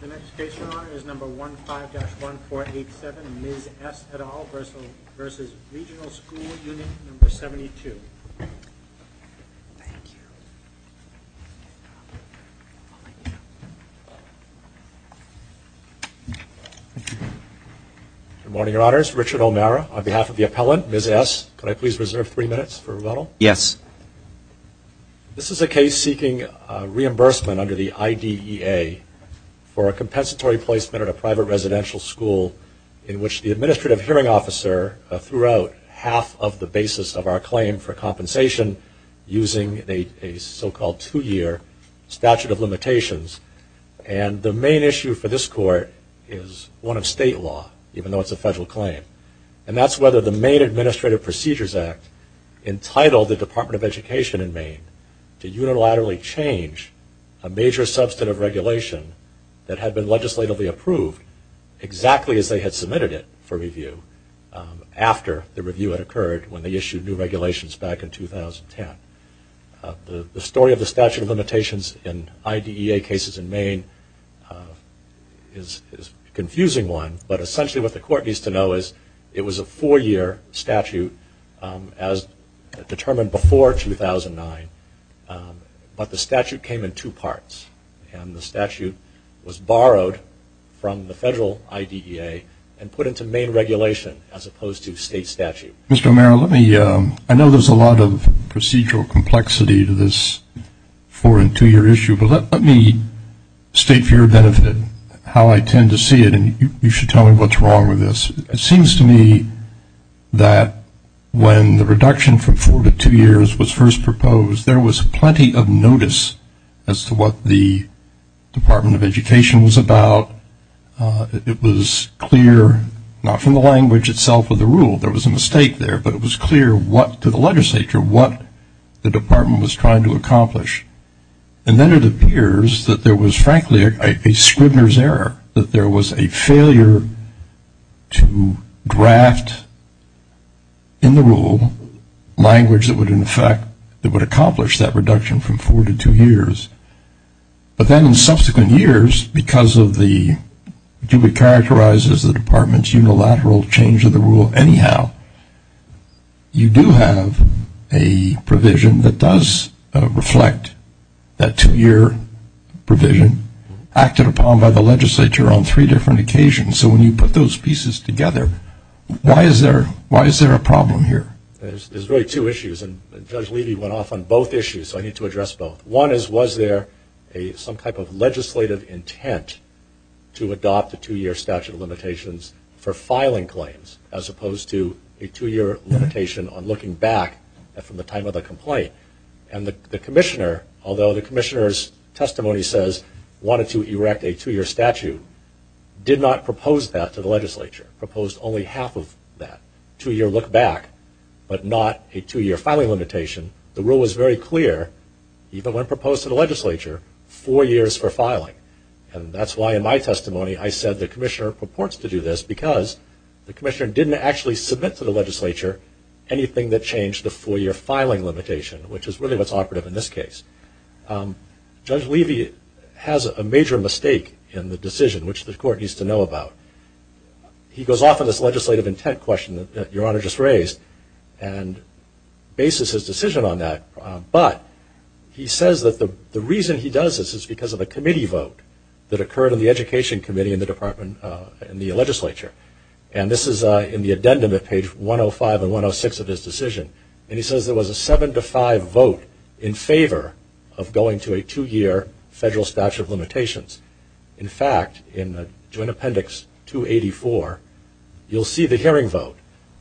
The next case we're on is No. 15-1487, Ms. S. et al. v. Regional School Unit 72. Good morning, Your Honors. Richard O'Mara on behalf of the appellant, Ms. S. Could I please reserve three minutes for rebuttal? Yes. This is a case seeking reimbursement under the IDEA for a compensatory placement at a private residential school in which the administrative hearing officer threw out half of the basis of our claim for compensation using a so-called two-year statute of limitations. And the main issue for this court is one of state law, even though it's a federal claim. And that's whether the Maine Administrative Procedures Act entitled the Department of Education in Maine to unilaterally change a major substantive regulation that had been legislatively approved exactly as they had submitted it for review after the review had occurred when they issued new regulations back in 2010. The story of the statute of limitations in IDEA cases in Maine is a confusing one, but essentially what the court needs to know is it was a four-year statute as determined before 2009, but the statute came in two parts. And the statute was borrowed from the federal IDEA and put into Maine regulation as opposed to state statute. Mr. O'Mara, I know there's a lot of procedural complexity to this four- and two-year issue, but let me state for your benefit how I tend to see it. And you should tell me what's wrong with this. It seems to me that when the reduction from four to two years was first proposed, there was plenty of notice as to what the Department of Education was about. It was clear, not from the language itself of the rule, there was a mistake there, but it was clear to the legislature what the department was trying to accomplish. And then it appears that there was, frankly, a Scribner's error, that there was a failure to draft in the rule language that would, in effect, that would accomplish that reduction from four to two years. But then in subsequent years, because of the, to be characterized as the department's unilateral change of the rule anyhow, you do have a provision that does reflect that two-year provision acted upon by the legislature on three different occasions. So when you put those pieces together, why is there a problem here? There's really two issues, and Judge Levy went off on both issues, so I need to address both. One is, was there some type of legislative intent to adopt the two-year statute of limitations for filing claims as opposed to a two-year limitation on looking back from the time of the complaint? And the commissioner, although the commissioner's testimony says wanted to erect a two-year statute, did not propose that to the legislature, proposed only half of that, two-year look back, but not a two-year filing limitation. The rule was very clear, even when proposed to the legislature, four years for filing. And that's why in my testimony I said the commissioner purports to do this, because the commissioner didn't actually submit to the legislature anything that changed the four-year filing limitation, which is really what's operative in this case. Judge Levy has a major mistake in the decision, which the court needs to know about. He goes off on this legislative intent question that Your Honor just raised, and bases his decision on that. But he says that the reason he does this is because of a committee vote that occurred in the education committee in the legislature. And this is in the addendum at page 105 and 106 of his decision. And he says there was a seven-to-five vote in favor of going to a two-year federal statute of limitations. In fact, in Joint Appendix 284, you'll see the hearing vote.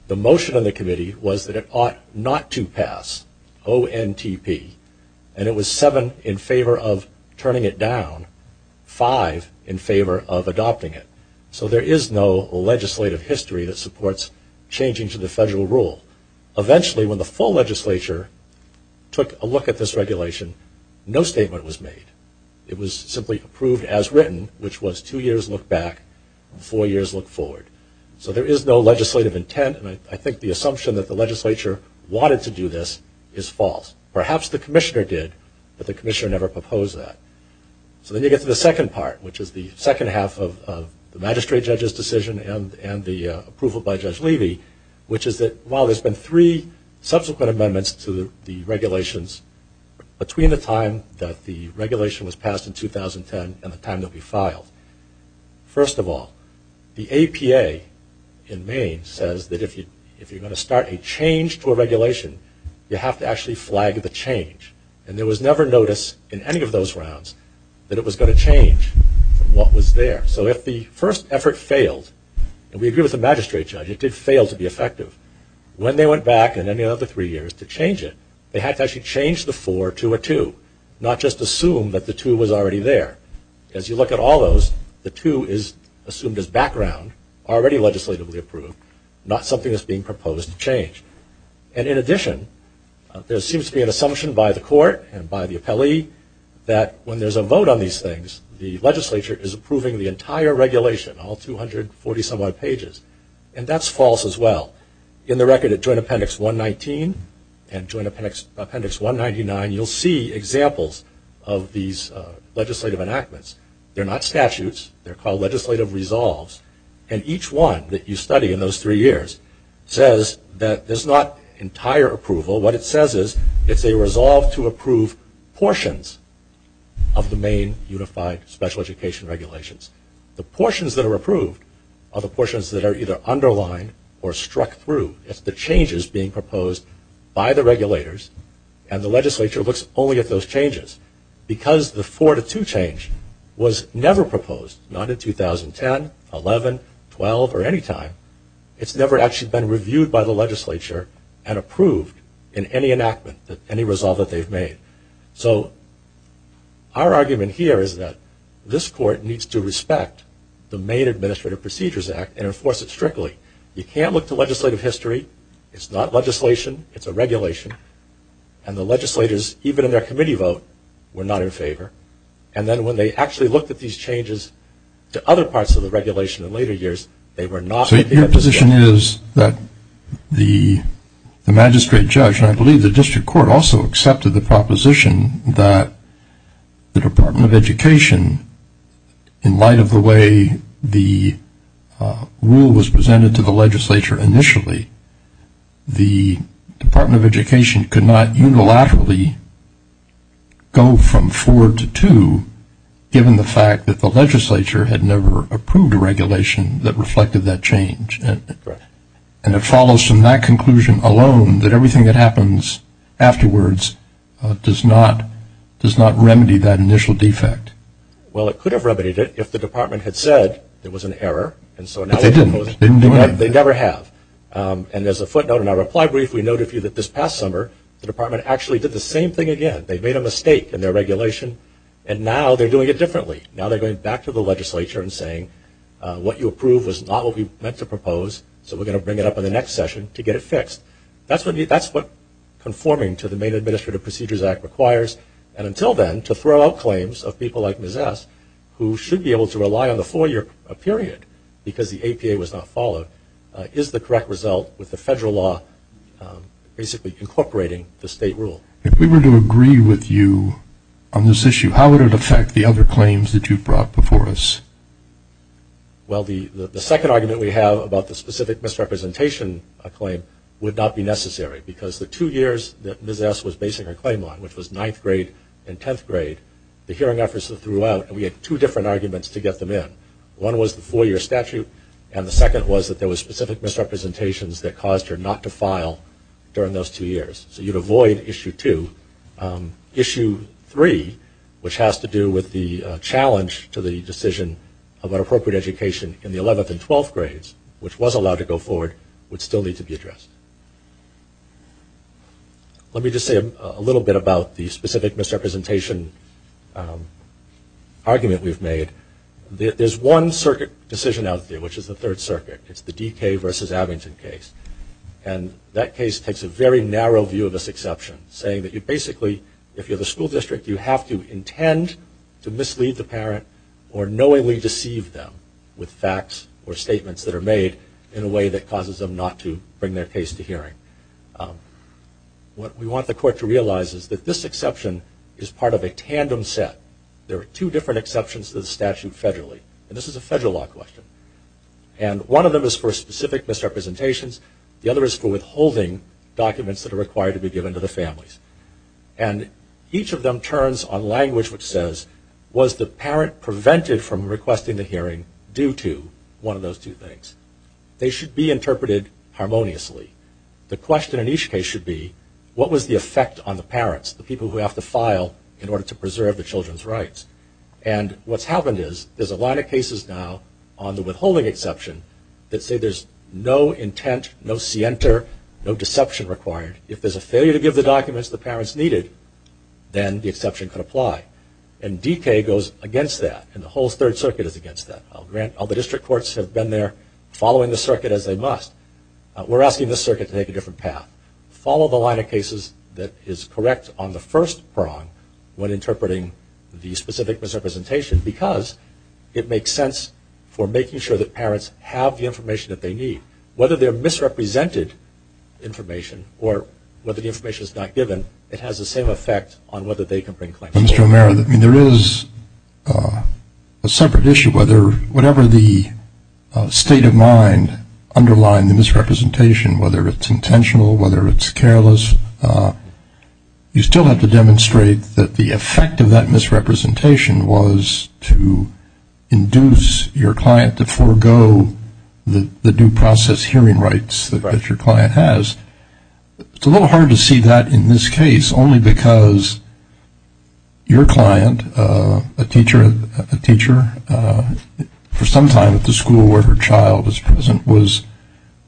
The motion of the committee was that it ought not to pass, ONTP. And it was seven in favor of turning it down, five in favor of adopting it. So there is no legislative history that supports changing to the federal rule. Eventually, when the full legislature took a look at this regulation, no statement was made. It was simply approved as written, which was two years look back, four years look forward. So there is no legislative intent. And I think the assumption that the legislature wanted to do this is false. Perhaps the commissioner did, but the commissioner never proposed that. So then you get to the second part, which is the second half of the magistrate judge's decision and the approval by Judge Levy, which is that while there's been three subsequent amendments to the regulations, between the time that the regulation was passed in 2010 and the time they'll be filed, first of all, the APA in Maine says that if you're going to start a change to a regulation, you have to actually flag the change. And there was never notice in any of those rounds that it was going to change from what was there. So if the first effort failed, and we agree with the magistrate judge, it did fail to be effective. When they went back in any other three years to change it, they had to actually change the four to a two, not just assume that the two was already there. As you look at all those, the two is assumed as background, already legislatively approved, not something that's being proposed to change. And in addition, there seems to be an assumption by the court and by the appellee that when there's a vote on these things, the legislature is approving the entire regulation, all 240-some odd pages. And that's false as well. In the record at Joint Appendix 119 and Joint Appendix 199, you'll see examples of these legislative enactments. They're not statutes. They're called legislative resolves. And each one that you study in those three years says that there's not entire approval. What it says is it's a resolve to approve portions of the Maine Unified Special Education regulations. The portions that are approved are the portions that are either underlined or struck through. It's the changes being proposed by the regulators, and the legislature looks only at those changes. Because the four to two change was never proposed, not in 2010, 11, 12, or any time, it's never actually been reviewed by the legislature and approved in any enactment, any resolve that they've made. So our argument here is that this court needs to respect the Maine Administrative Procedures Act and enforce it strictly. You can't look to legislative history. It's not legislation. It's a regulation. And the legislators, even in their committee vote, were not in favor. And then when they actually looked at these changes to other parts of the regulation in later years, they were not in favor. So your position is that the magistrate judge, and I believe the district court also accepted the proposition that the Department of Education, in light of the way the rule was presented to the legislature initially, the Department of Education could not unilaterally go from four to two, given the fact that the legislature had never approved a regulation that reflected that change. And it follows from that conclusion alone that everything that happens afterwards does not remedy that initial defect. Well, it could have remedied it if the department had said there was an error. But they didn't. They never have. And as a footnote in our reply brief, we noted to you that this past summer, the department actually did the same thing again. They made a mistake in their regulation, and now they're doing it differently. Now they're going back to the legislature and saying, what you approved was not what we meant to propose, so we're going to bring it up in the next session to get it fixed. That's what conforming to the Main Administrative Procedures Act requires. And until then, to throw out claims of people like Ms. S., who should be able to rely on the FOIA period because the APA was not followed, is the correct result with the federal law basically incorporating the state rule. If we were to agree with you on this issue, how would it affect the other claims that you've brought before us? Well, the second argument we have about the specific misrepresentation claim would not be necessary because the two years that Ms. S. was basing her claim on, which was ninth grade and tenth grade, the hearing efforts that threw out, and we had two different arguments to get them in. One was the four-year statute, and the second was that there was specific misrepresentations that caused her not to file during those two years. So you'd avoid issue two. Issue three, which has to do with the challenge to the decision about appropriate education in the 11th and 12th grades, which was allowed to go forward, would still need to be addressed. Let me just say a little bit about the specific misrepresentation argument we've made. There's one circuit decision out there, which is the Third Circuit. It's the D.K. versus Abington case, and that case takes a very narrow view of this exception, saying that you basically, if you're the school district, you have to intend to mislead the parent or knowingly deceive them with facts or statements that are made in a way that causes them not to bring their case to hearing. What we want the court to realize is that this exception is part of a tandem set. There are two different exceptions to the statute federally, and this is a federal law question. One of them is for specific misrepresentations. The other is for withholding documents that are required to be given to the families. Each of them turns on language which says, was the parent prevented from requesting the hearing due to one of those two things? They should be interpreted harmoniously. The question in each case should be, what was the effect on the parents, the people who have to file in order to preserve the children's rights? And what's happened is there's a line of cases now on the withholding exception that say there's no intent, no scienter, no deception required. If there's a failure to give the documents the parents needed, then the exception could apply. And D.K. goes against that, and the whole Third Circuit is against that. All the district courts have been there following the circuit as they must. We're asking the circuit to take a different path. Follow the line of cases that is correct on the first prong when interpreting the specific misrepresentation because it makes sense for making sure that parents have the information that they need. Whether they're misrepresented information or whether the information is not given, it has the same effect on whether they can bring claims forward. Mr. O'Mara, there is a separate issue. Whatever the state of mind underlying the misrepresentation, whether it's intentional, whether it's careless, you still have to demonstrate that the effect of that misrepresentation was to induce your client to forego the due process hearing rights that your client has. It's a little hard to see that in this case only because your client, a teacher for some time at the school where her child was present, was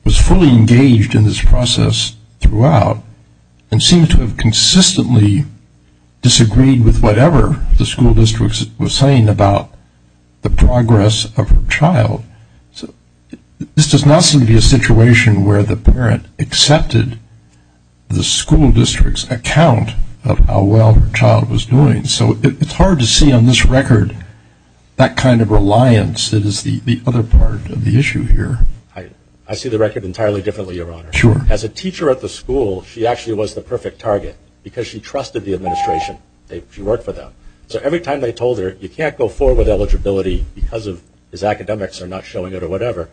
fully engaged in this process throughout and seemed to have consistently disagreed with whatever the school district was saying about the progress of her child. This does not seem to be a situation where the parent accepted the school district's account of how well her child was doing. So it's hard to see on this record that kind of reliance that is the other part of the issue here. I see the record entirely differently, Your Honor. Sure. As a teacher at the school, she actually was the perfect target because she trusted the administration. She worked for them. So every time they told her you can't go forward with eligibility because his academics are not showing it or whatever,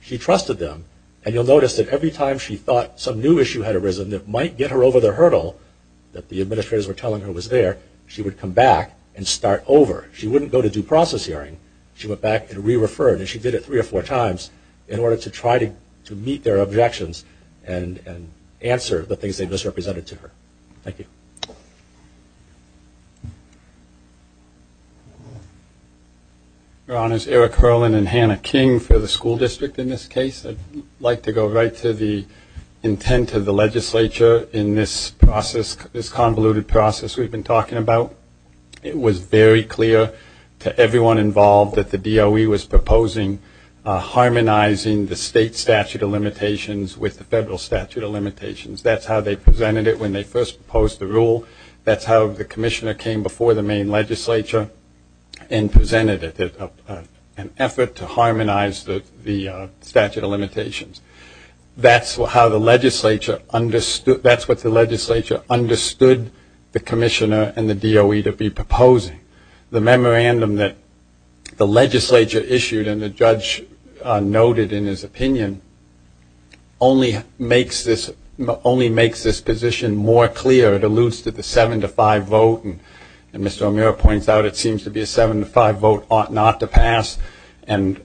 she trusted them. And you'll notice that every time she thought some new issue had arisen that might get her over the hurdle that the administrators were telling her was there, she would come back and start over. She wouldn't go to due process hearing. She went back and re-referred, and she did it three or four times in order to try to meet their objections and answer the things they misrepresented to her. Thank you. Your Honors, Eric Herlin and Hannah King for the school district in this case. I'd like to go right to the intent of the legislature in this process, this convoluted process. We've been talking about it was very clear to everyone involved that the DOE was proposing harmonizing the state statute of limitations with the federal statute of limitations. That's how they presented it when they first proposed the rule. That's how the commissioner came before the main legislature and presented an effort to harmonize the statute of limitations. That's what the legislature understood the commissioner and the DOE to be proposing. The memorandum that the legislature issued and the judge noted in his opinion only makes this position more clear. It alludes to the seven-to-five vote. And Mr. O'Meara points out it seems to be a seven-to-five vote ought not to pass. And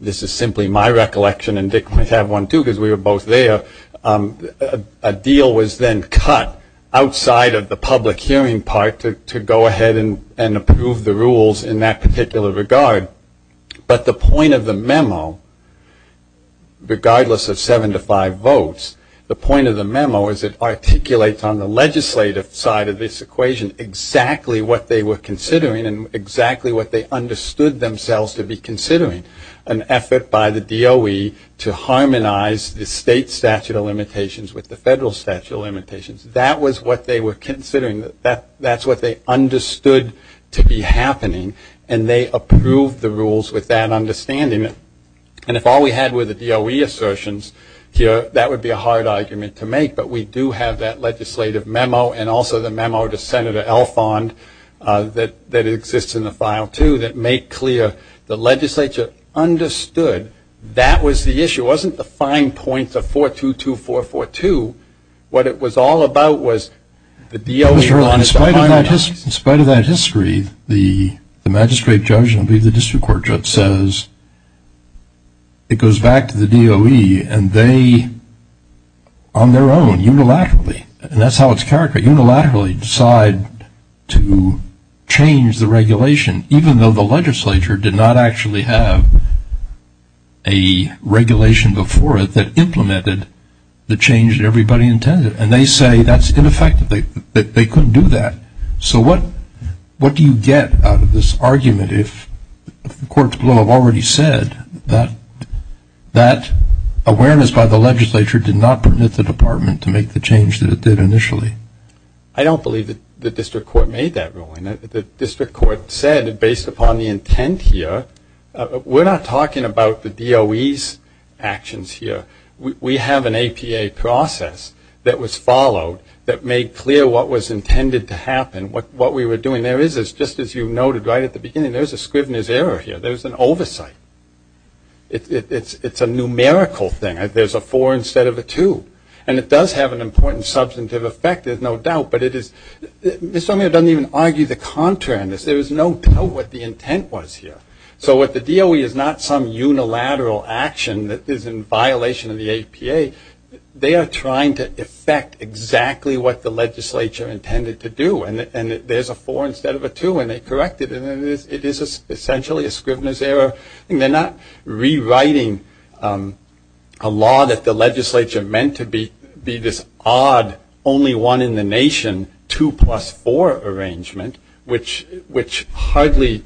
this is simply my recollection and Dick might have one too because we were both there. A deal was then cut outside of the public hearing part to go ahead and approve the rules in that particular regard. But the point of the memo, regardless of seven-to-five votes, the point of the memo is it articulates on the legislative side of this equation exactly what they were considering and exactly what they understood themselves to be considering. An effort by the DOE to harmonize the state statute of limitations with the federal statute of limitations. That was what they were considering. That's what they understood to be happening. And they approved the rules with that understanding. And if all we had were the DOE assertions here, that would be a hard argument to make. But we do have that legislative memo and also the memo to Senator Alfond that exists in the file too that make clear the legislature understood that was the issue. It wasn't the fine points of 422442. What it was all about was the DOE on its own. Mr. Earle, in spite of that history, the magistrate judge, says it goes back to the DOE and they, on their own, unilaterally, and that's how it's characterized, unilaterally decide to change the regulation, even though the legislature did not actually have a regulation before it that implemented the change that everybody intended. And they say that's ineffective. They couldn't do that. So what do you get out of this argument if the courts will have already said that that awareness by the legislature did not permit the department to make the change that it did initially? I don't believe the district court made that ruling. The district court said, based upon the intent here, we're not talking about the DOE's actions here. We have an APA process that was followed that made clear what was intended to happen, what we were doing. There is, just as you noted right at the beginning, there's a Scrivener's error here. There's an oversight. It's a numerical thing. There's a 4 instead of a 2. And it does have an important substantive effect, there's no doubt. But it is Mr. O'Meara doesn't even argue the contrary on this. There is no doubt what the intent was here. So what the DOE is not some unilateral action that is in violation of the APA. They are trying to effect exactly what the legislature intended to do. And there's a 4 instead of a 2, and they correct it. And it is essentially a Scrivener's error. And they're not rewriting a law that the legislature meant to be this odd, only one in the nation, 2 plus 4 arrangement, which hardly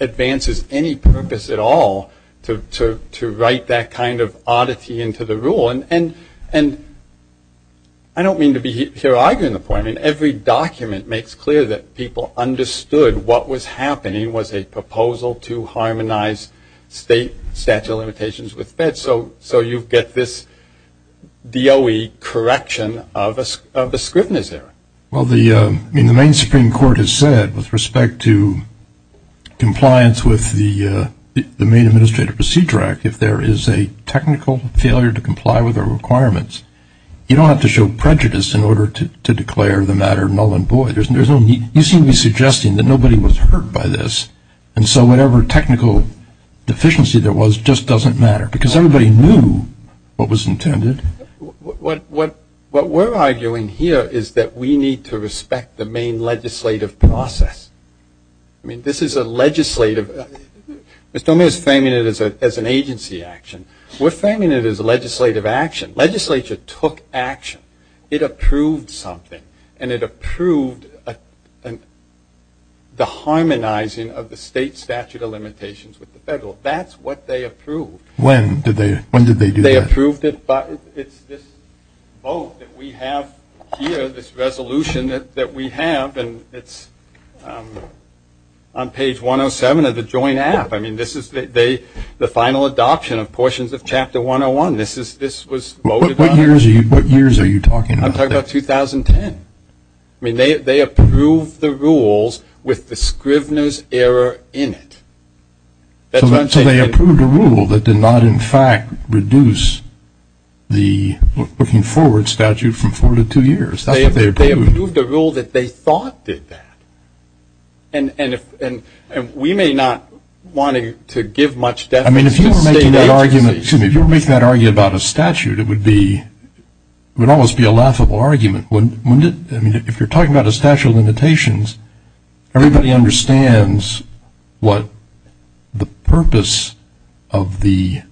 advances any purpose at all to write that kind of oddity into the rule. And I don't mean to be here arguing the point. I mean, every document makes clear that people understood what was happening was a proposal to harmonize state statute of limitations with feds. So you get this DOE correction of a Scrivener's error. Well, the main Supreme Court has said with respect to compliance with the Main Administrative Procedure Act, if there is a technical failure to comply with our requirements, you don't have to show prejudice in order to declare the matter null and void. You seem to be suggesting that nobody was hurt by this. And so whatever technical deficiency there was just doesn't matter. Because everybody knew what was intended. What we're arguing here is that we need to respect the main legislative process. I mean, this is a legislative – Mr. O'Meara is framing it as an agency action. We're framing it as a legislative action. Legislature took action. It approved something. And it approved the harmonizing of the state statute of limitations with the federal. That's what they approved. When did they do that? They approved it. It's this vote that we have here, this resolution that we have, and it's on page 107 of the joint app. I mean, this is the final adoption of portions of Chapter 101. This was voted on. What years are you talking about? I'm talking about 2010. I mean, they approved the rules with the Scrivener's error in it. So they approved a rule that did not, in fact, reduce the looking forward statute from four to two years. That's what they approved. They approved a rule that they thought did that. And we may not want to give much definition to state agencies. I mean, if you were making that argument about a statute, it would almost be a laughable argument, wouldn't it? I mean, if you're talking about a statute of limitations, everybody understands what the purpose of the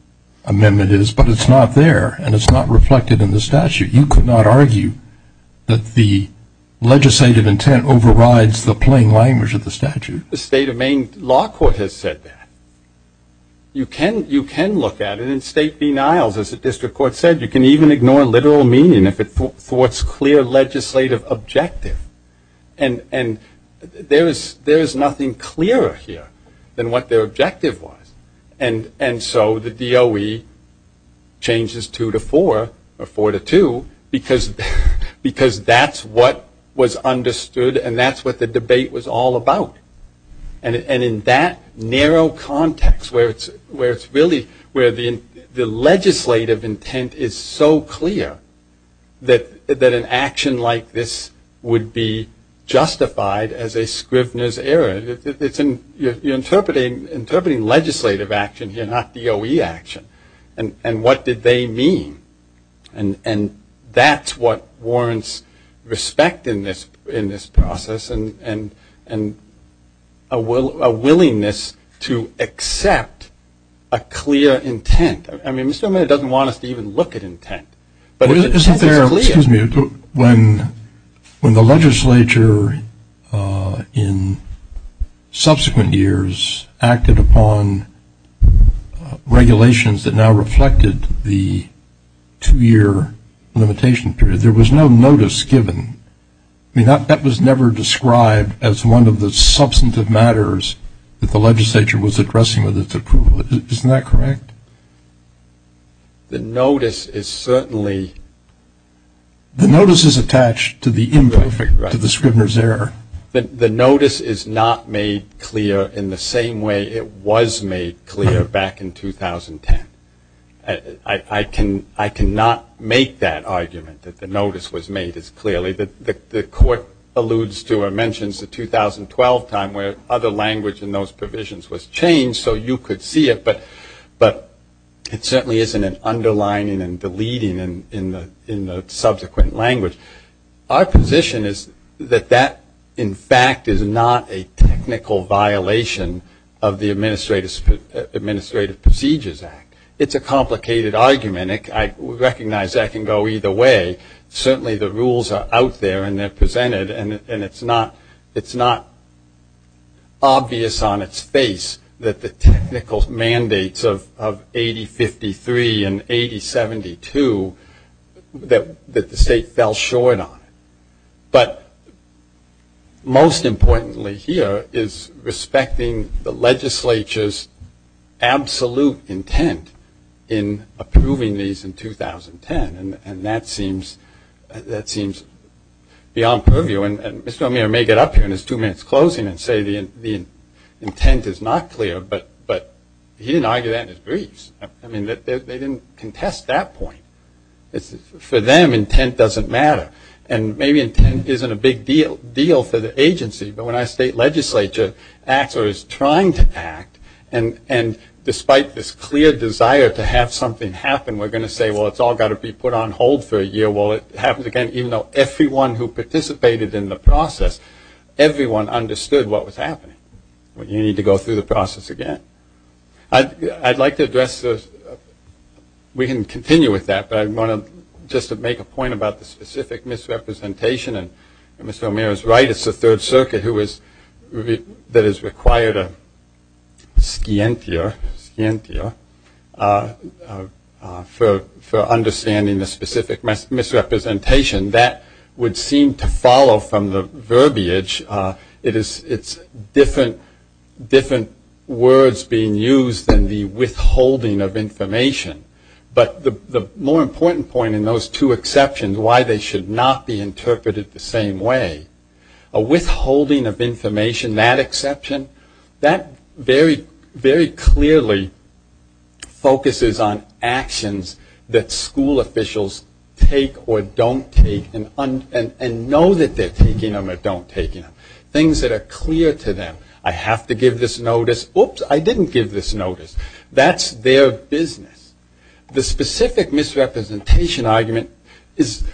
amendment is, but it's not there, and it's not reflected in the statute. You could not argue that the legislative intent overrides the plain language of the statute. The state of Maine law court has said that. You can look at it in state denials, as the district court said. You can even ignore literal meaning if it thwarts clear legislative objective. And there is nothing clearer here than what their objective was. And so the DOE changes two to four, or four to two, because that's what was understood and that's what the debate was all about. And in that narrow context where it's really where the legislative intent is so clear that an action like this would be justified as a Scrivner's error. You're interpreting legislative action here, not DOE action. And what did they mean? And that's what warrants respect in this process. And a willingness to accept a clear intent. I mean, Mr. O'Mara doesn't want us to even look at intent. But the intent is clear. Excuse me. When the legislature in subsequent years acted upon regulations that now reflected the two-year limitation period, there was no notice given. I mean, that was never described as one of the substantive matters that the legislature was addressing with its approval. Isn't that correct? The notice is certainly... The notice is attached to the imperfect, to the Scrivner's error. The notice is not made clear in the same way it was made clear back in 2010. I cannot make that argument that the notice was made as clearly. The court alludes to or mentions the 2012 time where other language in those provisions was changed so you could see it. But it certainly isn't an underlining and deleting in the subsequent language. Our position is that that, in fact, is not a technical violation of the Administrative Procedures Act. It's a complicated argument. I recognize that can go either way. Certainly the rules are out there and they're presented. And it's not obvious on its face that the technical mandates of 8053 and 8072, that the state fell short on. But most importantly here is respecting the legislature's absolute intent in approving these in 2010. And that seems beyond purview. And Mr. O'Meara may get up here in his two minutes closing and say the intent is not clear. But he didn't argue that in his briefs. I mean, they didn't contest that point. For them, intent doesn't matter. And maybe intent isn't a big deal for the agency. But when our state legislature acts or is trying to act, and despite this clear desire to have something happen, we're going to say, well, it's all got to be put on hold for a year. Well, it happens again, even though everyone who participated in the process, everyone understood what was happening. Well, you need to go through the process again. I'd like to address this. We can continue with that. But I want to just make a point about the specific misrepresentation. And Mr. O'Meara is right. It's the Third Circuit that is required a scientia for understanding the specific misrepresentation. That would seem to follow from the verbiage. It's different words being used than the withholding of information. But the more important point in those two exceptions, why they should not be interpreted the same way, a withholding of information, that exception, that very clearly focuses on actions that school officials take or don't take and know that they're taking them or don't taking them, things that are clear to them. I have to give this notice. Oops, I didn't give this notice. That's their business. The specific misrepresentation argument is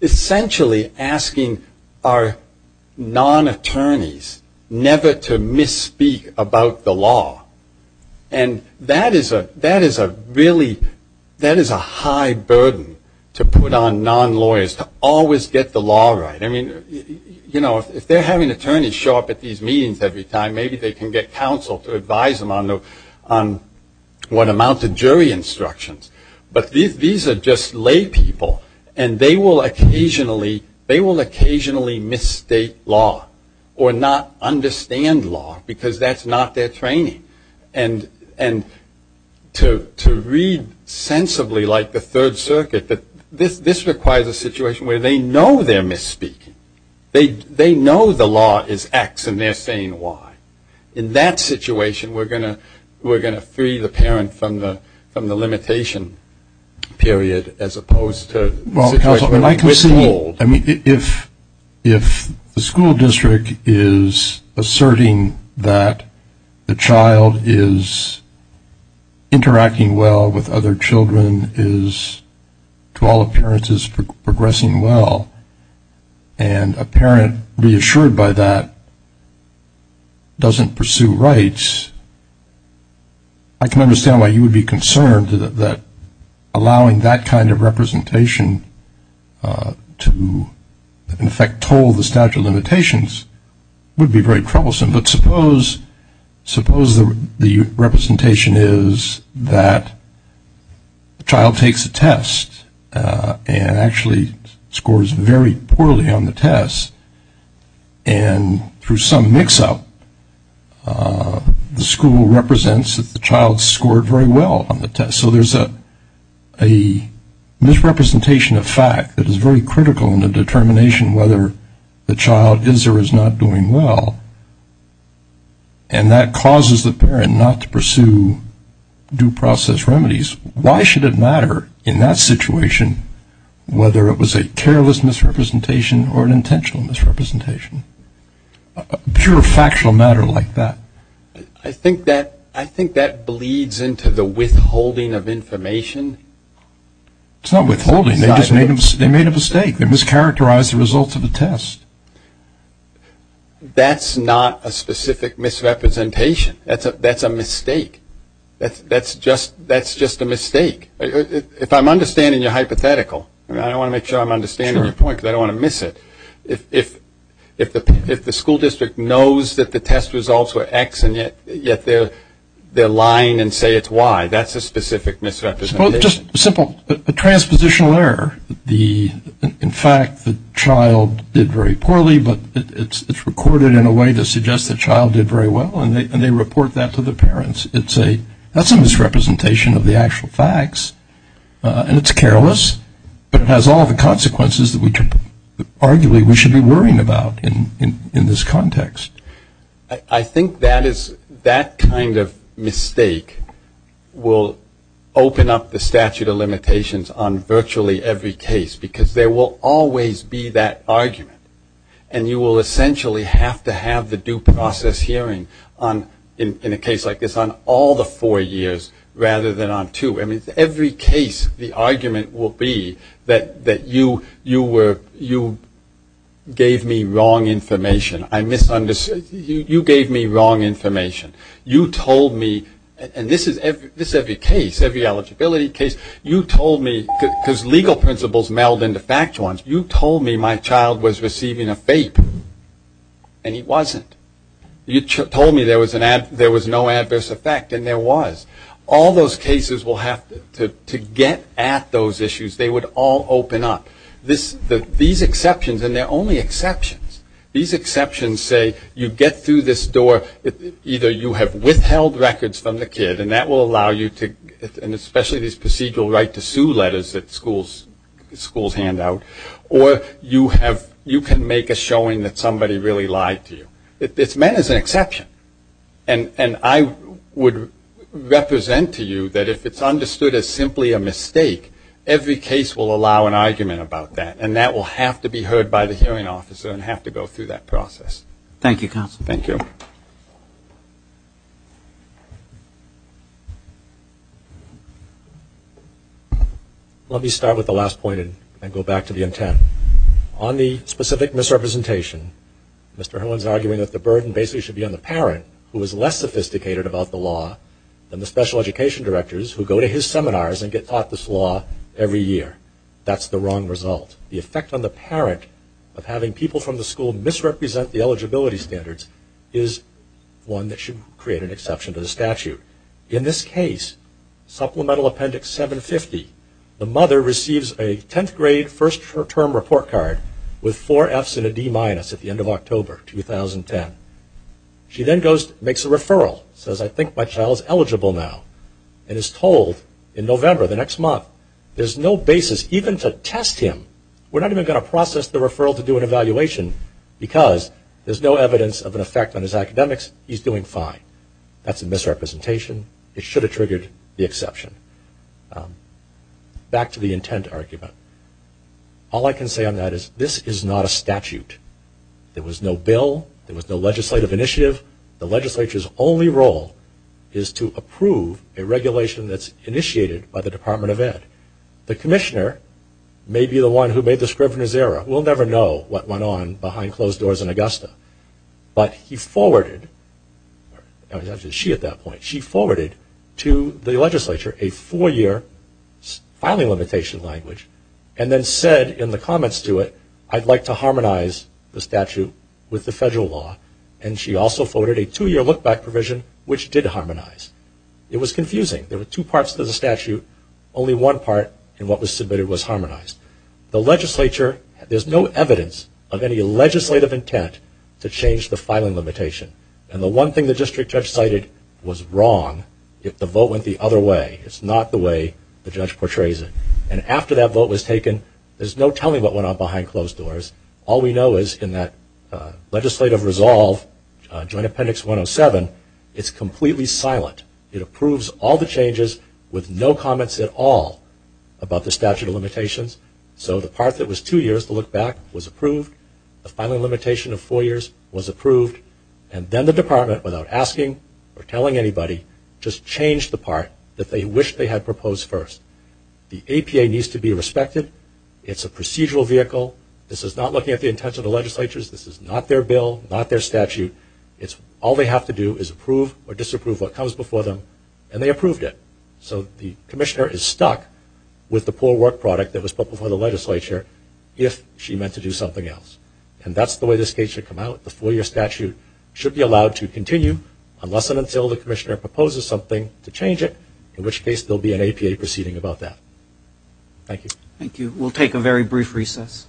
essentially asking our non-attorneys never to misspeak about the law. And that is a really, that is a high burden to put on non-lawyers, to always get the law right. I mean, you know, if they're having attorneys show up at these meetings every time, maybe they can get counsel to advise them on what amount of jury instructions. But these are just lay people, and they will occasionally, they will occasionally misstate law or not understand law because that's not their training. And to read sensibly like the Third Circuit, this requires a situation where they know they're misspeaking. They know the law is X, and they're saying Y. In that situation, we're going to free the parent from the limitation period as opposed to withhold. Well, counsel, if the school district is asserting that the child is interacting well with other children, to all appearances progressing well, and a parent reassured by that doesn't pursue rights, I can understand why you would be concerned that allowing that kind of representation to, in effect, toll the statute of limitations would be very troublesome. But suppose the representation is that the child takes a test and actually scores very poorly on the test, and through some mix-up the school represents that the child scored very well on the test. So there's a misrepresentation of fact that is very critical in the determination whether the child is or is not doing well, and that causes the parent not to pursue due process remedies. Why should it matter in that situation whether it was a careless misrepresentation or an intentional misrepresentation? Pure factual matter like that. I think that bleeds into the withholding of information. It's not withholding. They just made a mistake. They mischaracterized the results of the test. That's not a specific misrepresentation. That's a mistake. That's just a mistake. If I'm understanding your hypothetical, and I want to make sure I'm understanding your point, because I don't want to miss it, if the school district knows that the test results were X and yet they're lying and say it's Y, that's a specific misrepresentation. Just a simple transpositional error. In fact, the child did very poorly, but it's recorded in a way to suggest the child did very well, and they report that to the parents. That's a misrepresentation of the actual facts, and it's careless, but it has all the consequences that arguably we should be worrying about in this context. I think that kind of mistake will open up the statute of limitations on virtually every case, because there will always be that argument, and you will essentially have to have the due process hearing in a case like this on all the four years rather than on two. I mean, every case the argument will be that you gave me wrong information. I misunderstood. You gave me wrong information. You told me, and this is every case, every eligibility case. You told me, because legal principles meld into factual ones. You told me my child was receiving a FAPE, and he wasn't. You told me there was no adverse effect, and there was. All those cases will have to get at those issues. They would all open up. These exceptions, and they're only exceptions, these exceptions say you get through this door. Either you have withheld records from the kid, and that will allow you to, and especially these procedural right to sue letters that schools hand out, or you can make a showing that somebody really lied to you. It's meant as an exception, and I would represent to you that if it's understood as simply a mistake, every case will allow an argument about that, and that will have to be heard by the hearing officer and have to go through that process. Thank you, counsel. Thank you. Let me start with the last point and go back to the intent. On the specific misrepresentation, Mr. Herlin's arguing that the burden basically should be on the parent, who is less sophisticated about the law, than the special education directors who go to his seminars and get taught this law every year. That's the wrong result. The effect on the parent of having people from the school misrepresent the eligibility standards is one that should create an exception to the statute. In this case, Supplemental Appendix 750, the mother receives a 10th grade first term report card with four F's and a D minus at the end of October 2010. She then makes a referral, says, I think my child is eligible now, and is told in November, the next month, there's no basis even to test him. We're not even going to process the referral to do an evaluation because there's no evidence of an effect on his academics. He's doing fine. That's a misrepresentation. It should have triggered the exception. Back to the intent argument. All I can say on that is this is not a statute. There was no bill. There was no legislative initiative. The legislature's only role is to approve a regulation that's initiated by the Department of Ed. The commissioner, maybe the one who made the Scrivener's Error, we'll never know what went on behind closed doors in Augusta, but he forwarded, actually she at that point, she forwarded to the legislature a four-year filing limitation language and then said in the comments to it, I'd like to harmonize the statute with the federal law, and she also forwarded a two-year look-back provision, which did harmonize. It was confusing. There were two parts to the statute. Only one part in what was submitted was harmonized. The legislature, there's no evidence of any legislative intent to change the filing limitation, and the one thing the district judge cited was wrong if the vote went the other way. It's not the way the judge portrays it. And after that vote was taken, there's no telling what went on behind closed doors. All we know is in that legislative resolve, Joint Appendix 107, it's completely silent. It approves all the changes with no comments at all about the statute of limitations. So the part that was two years to look back was approved. The filing limitation of four years was approved. And then the department, without asking or telling anybody, just changed the part that they wished they had proposed first. The APA needs to be respected. It's a procedural vehicle. This is not looking at the intent of the legislatures. This is not their bill, not their statute. All they have to do is approve or disapprove what comes before them, and they approved it. So the commissioner is stuck with the poor work product that was put before the legislature if she meant to do something else. And that's the way this case should come out. The four-year statute should be allowed to continue unless and until the commissioner proposes something to change it, in which case there will be an APA proceeding about that. Thank you. Thank you. We'll take a very brief recess. Thank you.